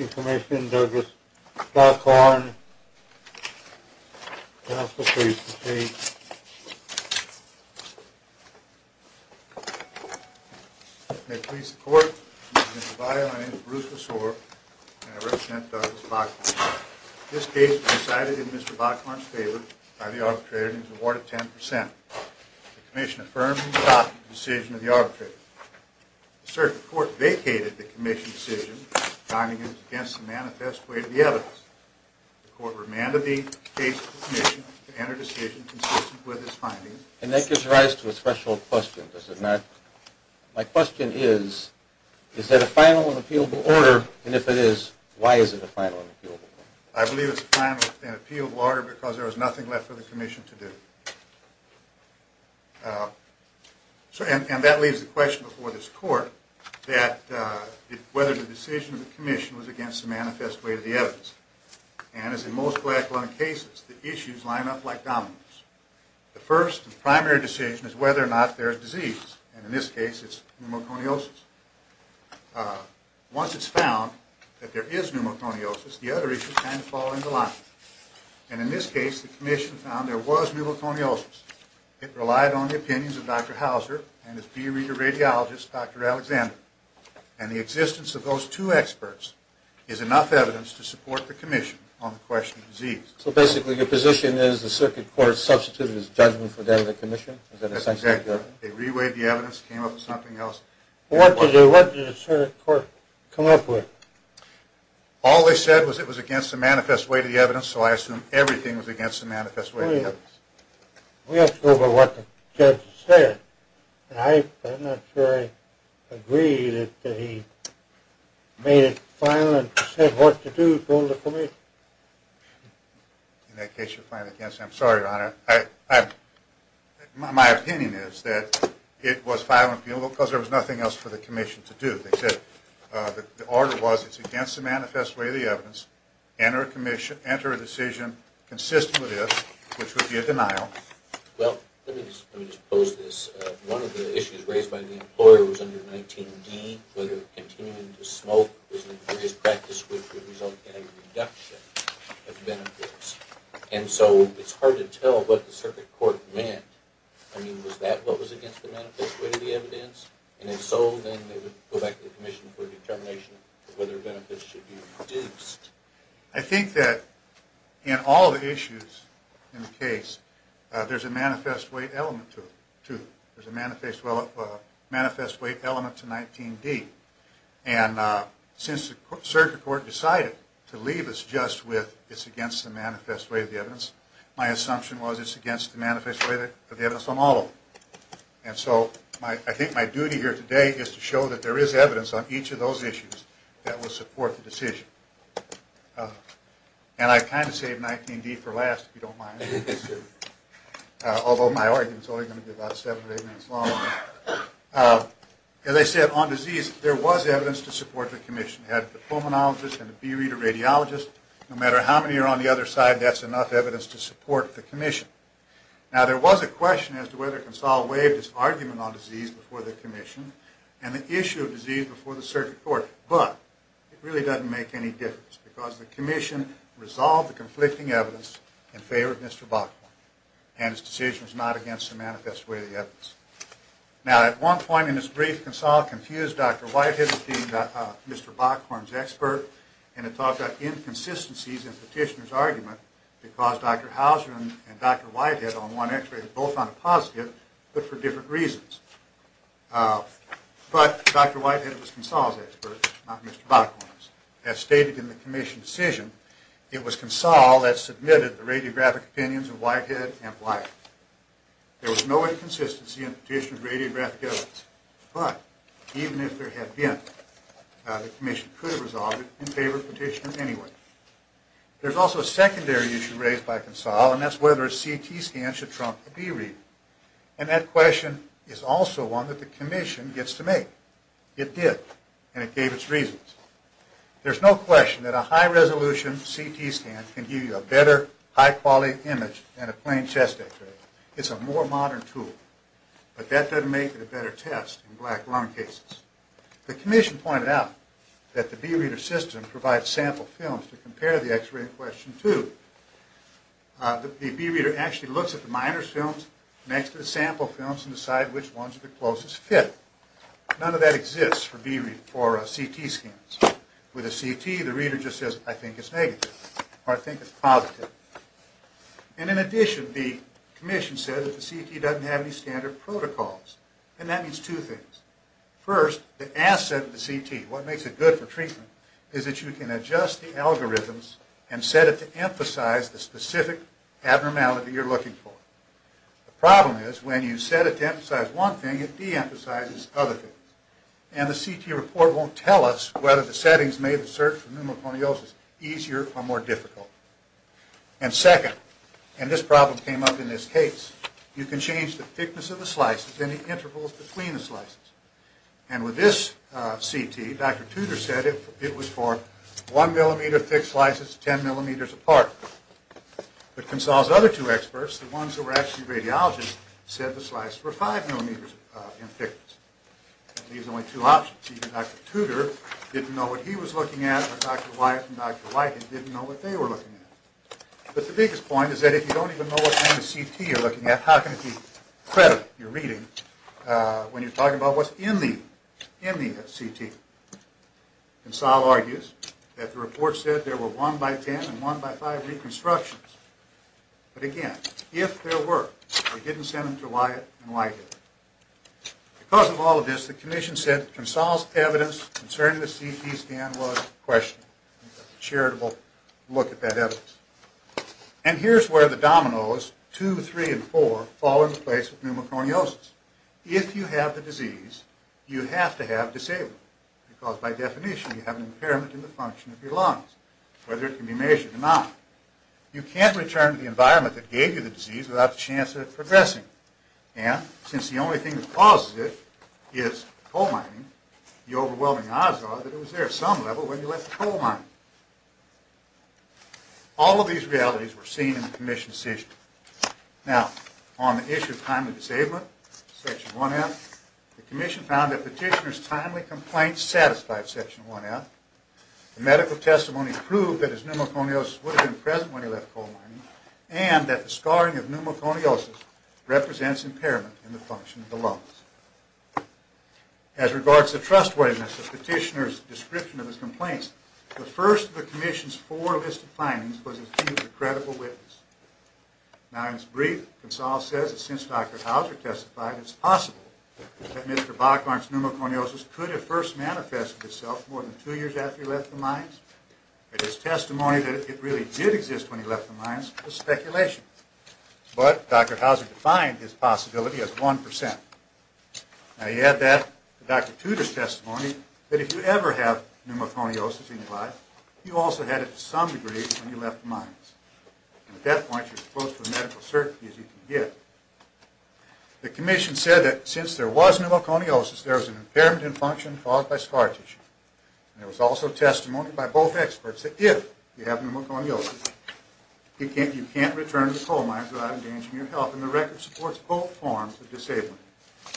Information, Douglas Bachorn. Counsel, please proceed. May it please the Court, Mr. D'Elia, my name is Bruce Lesore and I represent Douglas Bachorn. This case was decided in Mr. Bachorn's favor by the arbitrator and is awarded 10%. The Commission affirmed and adopted the decision of the arbitrator. Sir, the Court vacated the Commission's decision, finding it against the manifest way of the evidence. The Court remanded the case to the Commission to enter a decision consistent with its findings. And that gives rise to a threshold question, does it not? My question is, is that a final and appealable order, and if it is, why is it a final and appealable order? I believe it's a final and appealable order because there is nothing left for the Commission to do. And that leaves the question before this Court, whether the decision of the Commission was against the manifest way of the evidence. And as in most black lung cases, the issues line up like dominoes. The first and primary decision is whether or not there is disease, and in this case it's pneumoconiosis. Once it's found that there is pneumoconiosis, the other issues kind of fall into line. And in this case, the Commission found there was pneumoconiosis. It relied on the opinions of Dr. Hauser and his peer-reader radiologist, Dr. Alexander. And the existence of those two experts is enough evidence to support the Commission on the question of disease. So basically your position is the Circuit Court substituted its judgment for that of the Commission? That's exactly right. They reweighed the evidence, came up with something else. What did the Circuit Court come up with? All they said was it was against the manifest way of the evidence, so I assume everything was against the manifest way of the evidence. We have to go by what the judge said. I'm not sure I agree that he made it final and said what to do, told the Commission. In that case, you're fine against it. I'm sorry, Your Honor. My opinion is that it was final and penal because there was nothing else for the Commission to do. They said the order was it's against the manifest way of the evidence. Enter a decision consistent with this, which would be a denial. Well, let me just pose this. One of the issues raised by the employer was under 19d, whether continuing to smoke was an injurious practice, which would result in a reduction of benefits. And so it's hard to tell what the Circuit Court meant. I mean, was that what was against the manifest way of the evidence? And if so, then they would go back to the Commission for a determination of whether benefits should be reduced. I think that in all the issues in the case, there's a manifest way element to them. There's a manifest way element to 19d. And since the Circuit Court decided to leave us just with it's against the manifest way of the evidence, my assumption was it's against the manifest way of the evidence on all of them. And so I think my duty here today is to show that there is evidence on each of those issues that will support the decision. And I kind of saved 19d for last, if you don't mind. Although my argument is only going to be about seven or eight minutes long. As I said, on disease, there was evidence to support the Commission. We had the pulmonologist and the B-reader radiologist. No matter how many are on the other side, that's enough evidence to support the Commission. Now there was a question as to whether Consall waived his argument on disease before the Commission and the issue of disease before the Circuit Court. But it really doesn't make any difference because the Commission resolved the conflicting evidence in favor of Mr. Bockhorn and his decision was not against the manifest way of the evidence. Now at one point in his brief, Consall confused Dr. Whitehead as being Mr. Bockhorn's expert and it talked about inconsistencies in Petitioner's argument because Dr. Hauser and Dr. Whitehead on one x-ray were both on a positive, but for different reasons. But Dr. Whitehead was Consall's expert, not Mr. Bockhorn's. As stated in the Commission's decision, it was Consall that submitted the radiographic opinions of Whitehead and Whitehead. There was no inconsistency in Petitioner's radiographic evidence. But even if there had been, the Commission could have resolved it in favor of Petitioner anyway. There's also a secondary issue raised by Consall and that's whether a CT scan should trump a B-read. And that question is also one that the Commission gets to make. It did and it gave its reasons. There's no question that a high-resolution CT scan can give you a better, high-quality image than a plain chest x-ray. It's a more modern tool. But that doesn't make it a better test in black lung cases. The Commission pointed out that the B-reader system provides sample films to compare the x-ray in question to. The B-reader actually looks at the minor films next to the sample films and decides which ones are the closest fit. None of that exists for CT scans. With a CT, the reader just says, I think it's negative or I think it's positive. And in addition, the Commission said that the CT doesn't have any standard protocols. And that means two things. First, the asset of the CT, what makes it good for treatment, is that you can adjust the algorithms and set it to emphasize the specific abnormality you're looking for. The problem is when you set it to emphasize one thing, it de-emphasizes other things. And the CT report won't tell us whether the settings made the search for pneumoconiosis easier or more difficult. And second, and this problem came up in this case, you can change the thickness of the slices and the intervals between the slices. And with this CT, Dr. Tudor said it was for 1 millimeter thick slices 10 millimeters apart. But Consall's other two experts, the ones who were actually radiologists, said the slices were 5 millimeters in thickness. And these are only two options. Even Dr. Tudor didn't know what he was looking at, and Dr. Wyatt and Dr. Whitehead didn't know what they were looking at. But the biggest point is that if you don't even know what kind of CT you're looking at, how can it be credible, your reading, when you're talking about what's in the CT? Consall argues that the report said there were 1 by 10 and 1 by 5 reconstructions. But again, if there were, they didn't send them to Wyatt and Whitehead. Because of all of this, the commission said Consall's evidence concerning the CT scan was questionable. A charitable look at that evidence. And here's where the dominoes, 2, 3, and 4, fall into place with pneumoconiosis. If you have the disease, you have to have disabled. Because by definition, you have an impairment in the function of your lungs, whether it can be measured or not. You can't return to the environment that gave you the disease without the chance of it progressing. And since the only thing that causes it is coal mining, the overwhelming odds are that it was there at some level when you left the coal mining. All of these realities were seen in the commission's decision. Now, on the issue of timely disablement, Section 1F, the commission found that Petitioner's timely complaint satisfied Section 1F. The medical testimony proved that his pneumoconiosis would have been present when he left coal mining, and that the scarring of pneumoconiosis represents impairment in the function of the lungs. As regards the trustworthiness of Petitioner's description of his complaints, the first of the commission's four listed findings was that he was a credible witness. Now, in his brief, Consall says that since Dr. Hauser testified, it's possible that Mr. Bachmar's pneumoconiosis could have first manifested itself more than two years after he left the mines. And his testimony that it really did exist when he left the mines was speculation. But Dr. Hauser defined his possibility as 1%. Now, you add that to Dr. Tudor's testimony that if you ever have pneumoconiosis in your life, you also had it to some degree when you left the mines. And at that point, you're as close to the medical certainty as you can get. The commission said that since there was pneumoconiosis, there was an impairment in function caused by scar tissue. And there was also testimony by both experts that if you have pneumoconiosis, you can't return to the coal mines without endangering your health. And the record supports both forms of disability.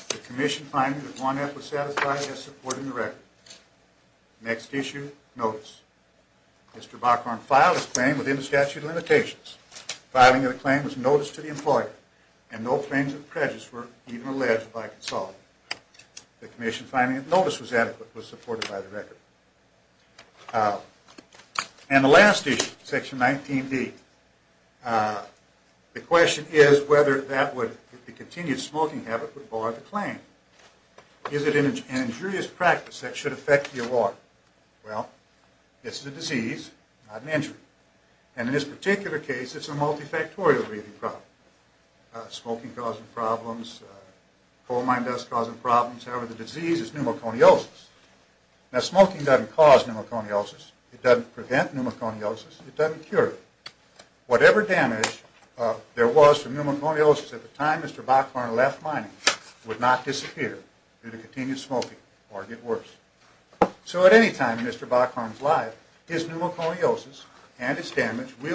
The commission finding that 1F was satisfied as supporting the record. Next issue, notice. Mr. Bachmar filed his claim within the statute of limitations. Filing of the claim was notice to the employer. And no claims of prejudice were even alleged by Consall. The commission finding that notice was adequate was supported by the record. And the last issue, section 19B. The question is whether the continued smoking habit would bar the claim. Is it an injurious practice that should affect the award? Well, this is a disease, not an injury. And in this particular case, it's a multifactorial breathing problem. Smoking causing problems, coal mine dust causing problems. However, the disease is pneumoconiosis. Now, smoking doesn't cause pneumoconiosis. It doesn't prevent pneumoconiosis. It doesn't cure it. Whatever damage there was from pneumoconiosis at the time Mr. Bachmar left mining would not disappear due to continued smoking or get worse. So at any time Mr. Bachmar is alive, his pneumoconiosis and its damage But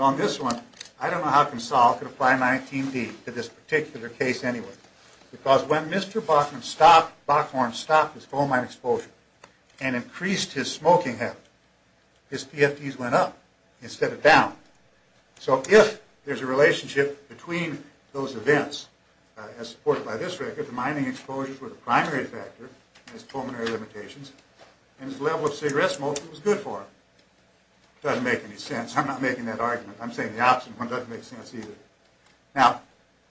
on this one, I don't know how Consall could apply 19B to this particular case anyway. Because when Mr. Bachmar stopped his coal mine exposure and increased his smoking habit, his PFDs went up instead of down. So if there's a relationship between those events as supported by this record, the mining exposures were the primary factor in his pulmonary limitations and his level of cigarette smoking was good for him. It doesn't make any sense. I'm not making that argument. I'm saying the opposite one doesn't make sense either. Now,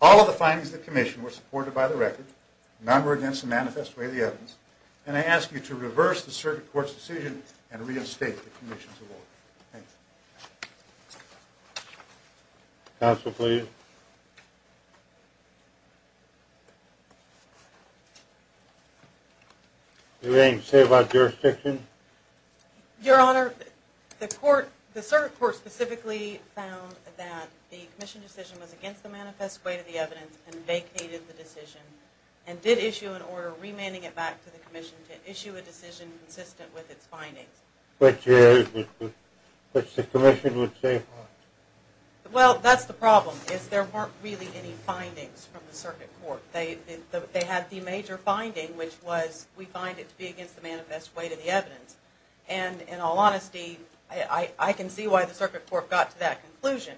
all of the findings of the commission were supported by the record. None were against the manifest way of the evidence. And I ask you to reverse the circuit court's decision and reinstate the commission's award. Thank you. Counsel, please. Do you have anything to say about jurisdiction? Your Honor, the circuit court specifically found that the commission decision was against the manifest way of the evidence and vacated the decision and did issue an order remanding it back to the commission to issue a decision consistent with its findings. Which the commission would say what? Well, that's the problem. There weren't really any findings from the circuit court. They had the major finding, which was we find it to be against the manifest way to the evidence. And in all honesty, I can see why the circuit court got to that conclusion.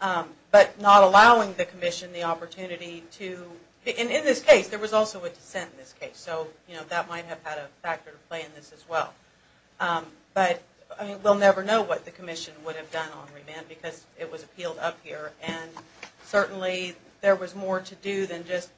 But not allowing the commission the opportunity to, in this case, there was also a dissent in this case. So, you know, that might have had a factor to play in this as well. But we'll never know what the commission would have done on remand because it was appealed up here. And certainly there was more to do than just,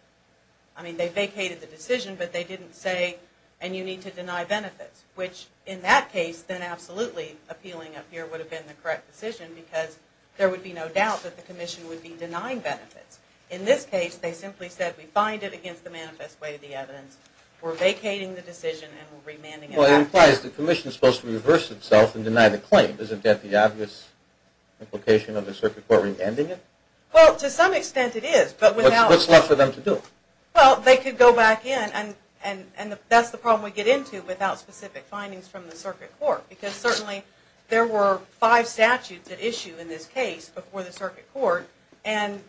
I mean, they vacated the decision, but they didn't say, and you need to deny benefits. Which, in that case, then absolutely appealing up here would have been the correct decision because there would be no doubt that the commission would be denying benefits. In this case, they simply said we find it against the manifest way of the evidence. We're vacating the decision and we're remanding it. Well, it implies the commission is supposed to reverse itself and deny the claim. Isn't that the obvious implication of the circuit court remanding it? Well, to some extent it is. What's left for them to do? Well, they could go back in and that's the problem we get into without specific findings from the circuit court. Because certainly there were five statutes at issue in this case before the circuit court. And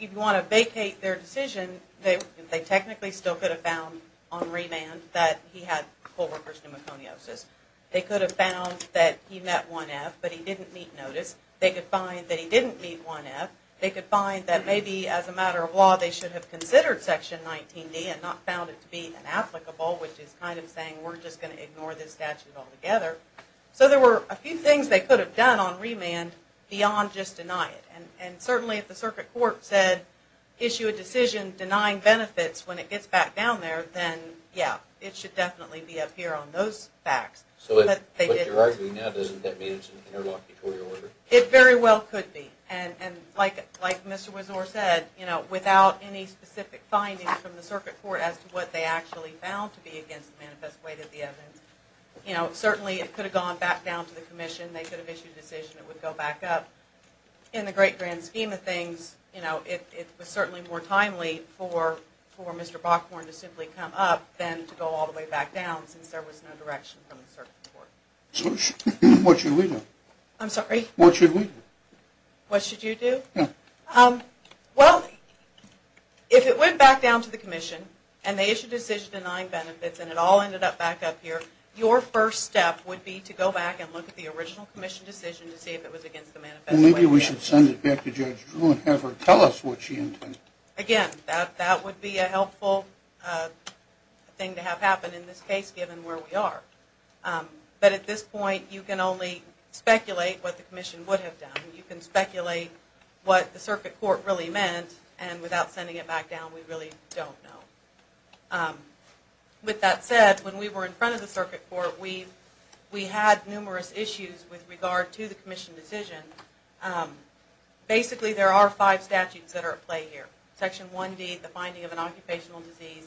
if you want to vacate their decision, they technically still could have found on remand that he had co-worker's pneumoconiosis. They could have found that he met 1F, but he didn't meet notice. They could find that he didn't meet 1F. They could find that maybe as a matter of law they should have considered Section 19D and not found it to be inapplicable, which is kind of saying we're just going to ignore this statute altogether. So there were a few things they could have done on remand beyond just deny it. And certainly if the circuit court said issue a decision denying benefits when it gets back down there, then yeah, it should definitely be up here on those facts. So what you're arguing now, doesn't that mean it's an interlocutory order? It very well could be. And like Mr. Widzor said, without any specific findings from the circuit court as to what they actually found to be against the manifest way that the evidence, certainly it could have gone back down to the commission. They could have issued a decision that would go back up. In the great grand scheme of things, it was certainly more timely for Mr. Bockhorn to simply come up than to go all the way back down since there was no direction from the circuit court. So what should we do? I'm sorry? What should we do? What should you do? Yeah. Well, if it went back down to the commission and they issued a decision denying benefits and it all ended up back up here, your first step would be to go back and look at the original commission decision to see if it was against the manifest way. Maybe we should send it back to Judge Drew and have her tell us what she intended. Again, that would be a helpful thing to have happen in this case given where we are. But at this point, you can only speculate what the commission would have done. You can speculate what the circuit court really meant and without sending it back down, we really don't know. With that said, when we were in front of the circuit court, we had numerous issues with regard to the commission decision. Basically, there are five statutes that are at play here. Section 1D, the finding of an occupational disease.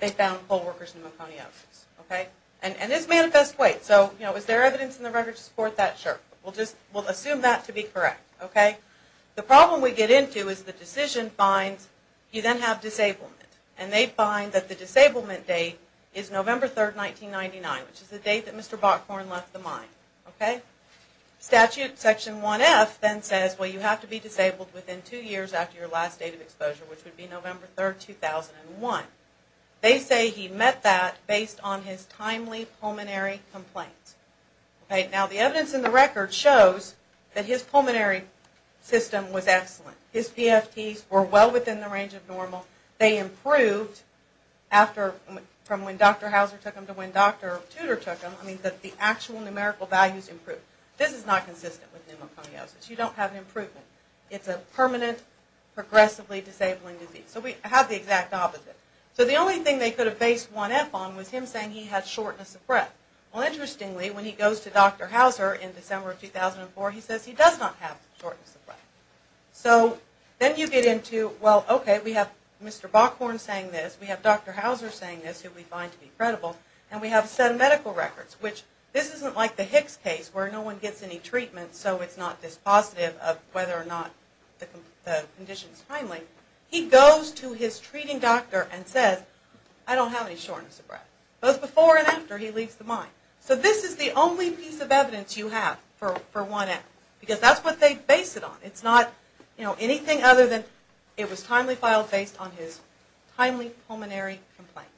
They found poll workers with pneumoconiosis. And this manifest way. So is there evidence in the record to support that? Sure. We'll assume that to be correct. The problem we get into is the decision finds you then have disablement. And they find that the disablement date is November 3, 1999, which is the date that Mr. Bockhorn left the mine. Statute section 1F then says, well, you have to be disabled within two years after your last date of exposure, which would be November 3, 2001. They say he met that based on his timely pulmonary complaints. Now, the evidence in the record shows that his pulmonary system was excellent. His PFTs were well within the range of normal. They improved from when Dr. Hauser took them to when Dr. Tudor took them. I mean, the actual numerical values improved. This is not consistent with pneumoconiosis. You don't have improvement. It's a permanent, progressively disabling disease. So we have the exact opposite. So the only thing they could have based 1F on was him saying he had shortness of breath. Well, interestingly, when he goes to Dr. Hauser in December of 2004, he says he does not have shortness of breath. So then you get into, well, okay, we have Mr. Bockhorn saying this, we have Dr. Hauser saying this, who we find to be credible, and we have a set of medical records, which this isn't like the Hicks case where no one gets any treatment so it's not dispositive of whether or not the condition is timely. He goes to his treating doctor and says, I don't have any shortness of breath. Both before and after, he leaves the mine. So this is the only piece of evidence you have for 1F because that's what they base it on. It's not anything other than it was timely filed based on his timely pulmonary complaints.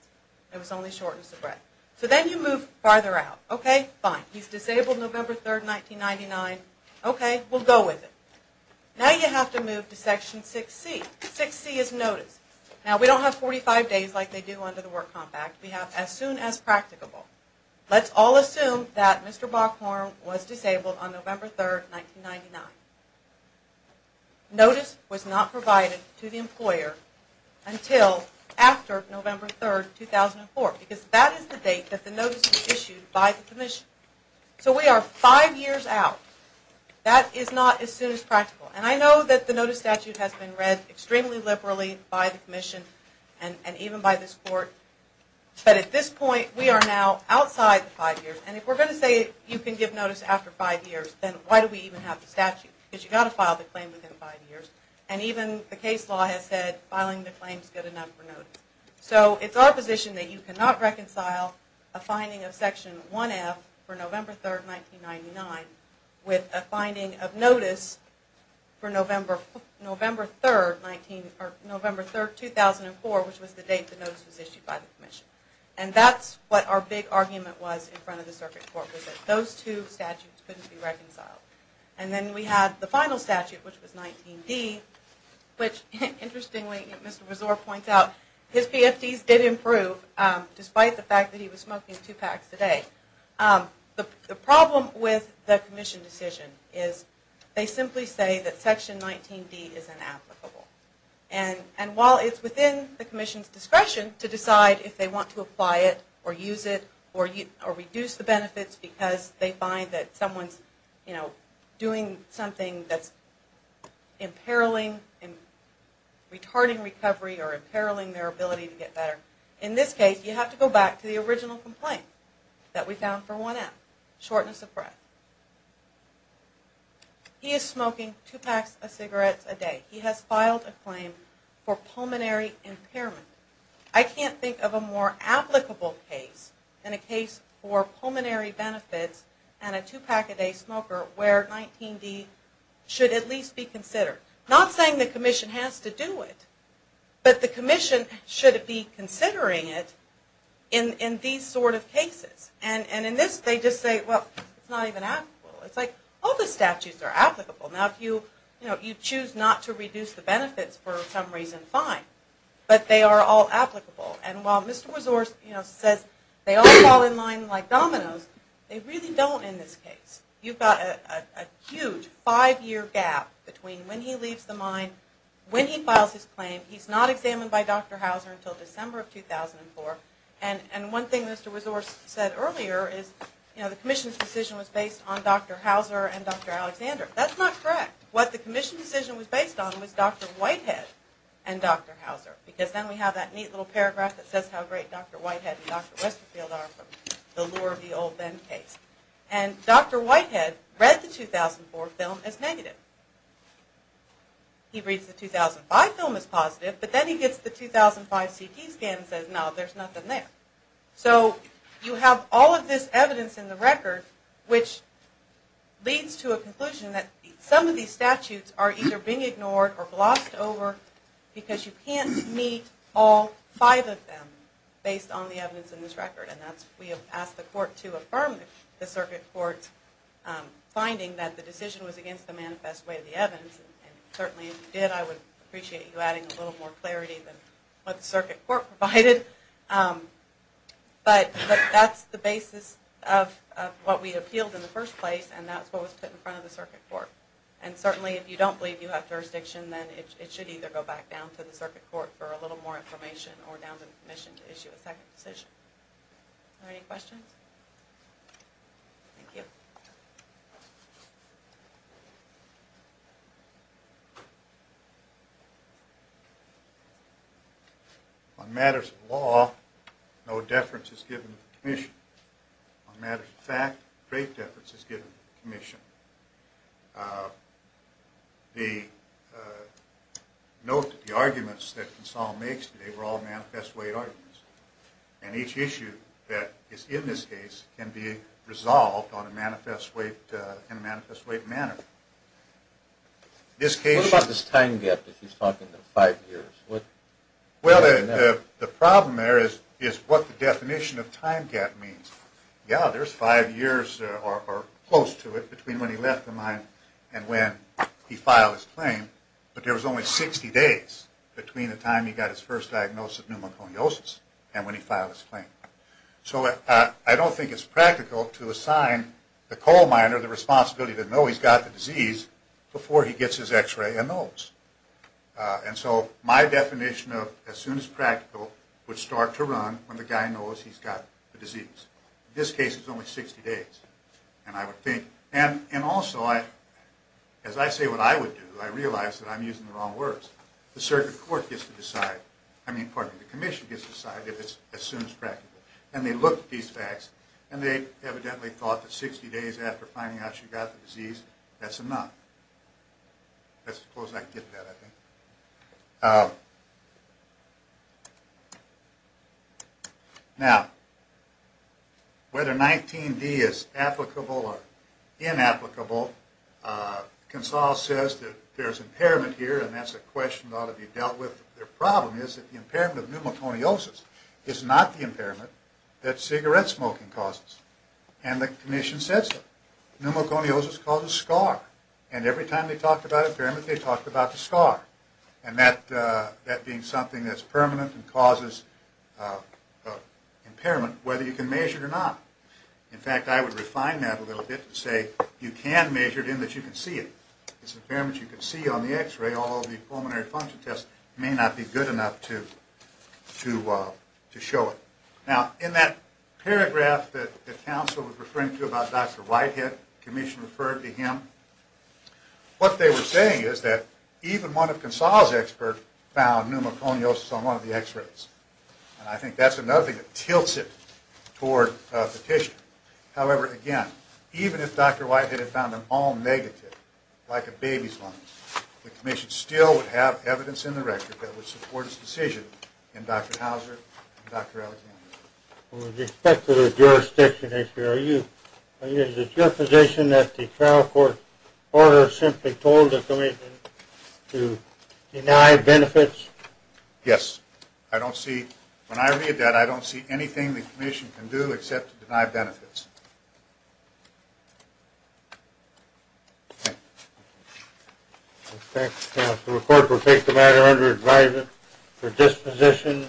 It was only shortness of breath. So then you move farther out. Okay, fine, he's disabled November 3, 1999. Okay, we'll go with it. Now you have to move to Section 6C. 6C is notice. Now we don't have 45 days like they do under the Work Compact. We have as soon as practicable. Let's all assume that Mr. Bockhorn was disabled on November 3, 1999. Notice was not provided to the employer until after November 3, 2004 because that is the date that the notice was issued by the commission. So we are five years out. That is not as soon as practical. And I know that the notice statute has been read extremely liberally by the commission and even by this court, but at this point we are now outside the five years. And if we're going to say you can give notice after five years, then why do we even have the statute? Because you've got to file the claim within five years. And even the case law has said filing the claim is good enough for notice. So it's our position that you cannot reconcile a finding of Section 1F for November 3, 1999 with a finding of notice for November 3, 2004, which was the date the notice was issued by the commission. And that's what our big argument was in front of the circuit court was that those two statutes couldn't be reconciled. And then we had the final statute, which was 19D, which interestingly, as Mr. Rezor points out, his PFDs did improve despite the fact that he was smoking two packs a day. The problem with the commission decision is they simply say that Section 19D is inapplicable. And while it's within the commission's discretion to decide if they want to apply it or use it or reduce the benefits because they find that someone's doing something that's imperiling, retarding recovery or imperiling their ability to get better, in this case you have to go back to the original complaint that we found for 1F, shortness of breath. He is smoking two packs of cigarettes a day. He has filed a claim for pulmonary impairment. I can't think of a more applicable case than a case for pulmonary benefits and a two-pack-a-day smoker where 19D should at least be considered. Not saying the commission has to do it, but the commission should be considering it in these sort of cases. And in this they just say, well, it's not even applicable. It's like all the statutes are applicable. Now if you choose not to reduce the benefits for some reason, fine. But they are all applicable. And while Mr. Resorce says they all fall in line like dominoes, they really don't in this case. You've got a huge five-year gap between when he leaves the mine, when he files his claim. He's not examined by Dr. Hauser until December of 2004. And one thing Mr. Resorce said earlier is the commission's decision was based on Dr. Hauser and Dr. Alexander. That's not correct. What the commission's decision was based on was Dr. Whitehead and Dr. Hauser. Because then we have that neat little paragraph that says how great Dr. Whitehead and Dr. Westerfield are for the lure of the old then case. And Dr. Whitehead read the 2004 film as negative. He reads the 2005 film as positive, but then he gets the 2005 CT scan and says, no, there's nothing there. So you have all of this evidence in the record which leads to a conclusion that some of these statutes are either being ignored or glossed over because you can't meet all five of them based on the evidence in this record. And that's why we have asked the court to affirm the circuit court's finding that the decision was against the manifest way of the evidence. And certainly if you did I would appreciate you adding a little more clarity than what the circuit court provided. But that's the basis of what we appealed in the first place and that's what was put in front of the circuit court. And certainly if you don't believe you have jurisdiction, then it should either go back down to the circuit court for a little more information or down to the commission to issue a second decision. Are there any questions? Thank you. On matters of law, no deference is given to the commission. On matters of fact, great deference is given to the commission. Note that the arguments that Consuelo makes today were all manifest way arguments. And each issue that is in this case can be resolved in a manifest way manner. What about this time gap that she's talking about, five years? Well, the problem there is what the definition of time gap means. Yeah, there's five years or close to it between when he left the mine and when he filed his claim. But there was only 60 days between the time he got his first diagnosis of pneumoconiosis and when he filed his claim. So I don't think it's practical to assign the coal miner the responsibility to know he's got the disease before he gets his x-ray and knows. And so my definition of as soon as practical would start to run when the guy knows he's got the disease. In this case, it's only 60 days. And I would think, and also, as I say what I would do, I realize that I'm using the wrong words. The circuit court gets to decide, I mean, pardon me, the commission gets to decide if it's as soon as practical. And they looked at these facts, and they evidently thought that 60 days after finding out she got the disease, that's enough. That's as close as I can get to that, I think. Now, whether 19D is applicable or inapplicable, Consal says that there's impairment here, and that's a question that ought to be dealt with. Their problem is that the impairment of pneumoconiosis is not the impairment that cigarette smoking causes. And the commission says so. Pneumoconiosis causes scar. And every time they talked about impairment, they talked about the scar. And that being something that's permanent and causes impairment, whether you can measure it or not. In fact, I would refine that a little bit and say you can measure it in that you can see it. It's an impairment you can see on the x-ray, although the pulmonary function test may not be good enough to show it. Now, in that paragraph that counsel was referring to about Dr. Whitehead, the commission referred to him, what they were saying is that even one of Consal's experts found pneumoconiosis on one of the x-rays. And I think that's another thing that tilts it toward a petition. However, again, even if Dr. Whitehead had found them all negative, like a baby's lungs, the commission still would have evidence in the record that would support its decision in favor of Dr. Whitehead and Dr. Houser and Dr. Alexander. With respect to the jurisdiction issue, is it your position that the trial court order simply told the commission to deny benefits? Yes. When I read that, I don't see anything the commission can do except to deny benefits. Okay. Thank you, counsel. The court will take the matter under advisement for disposition.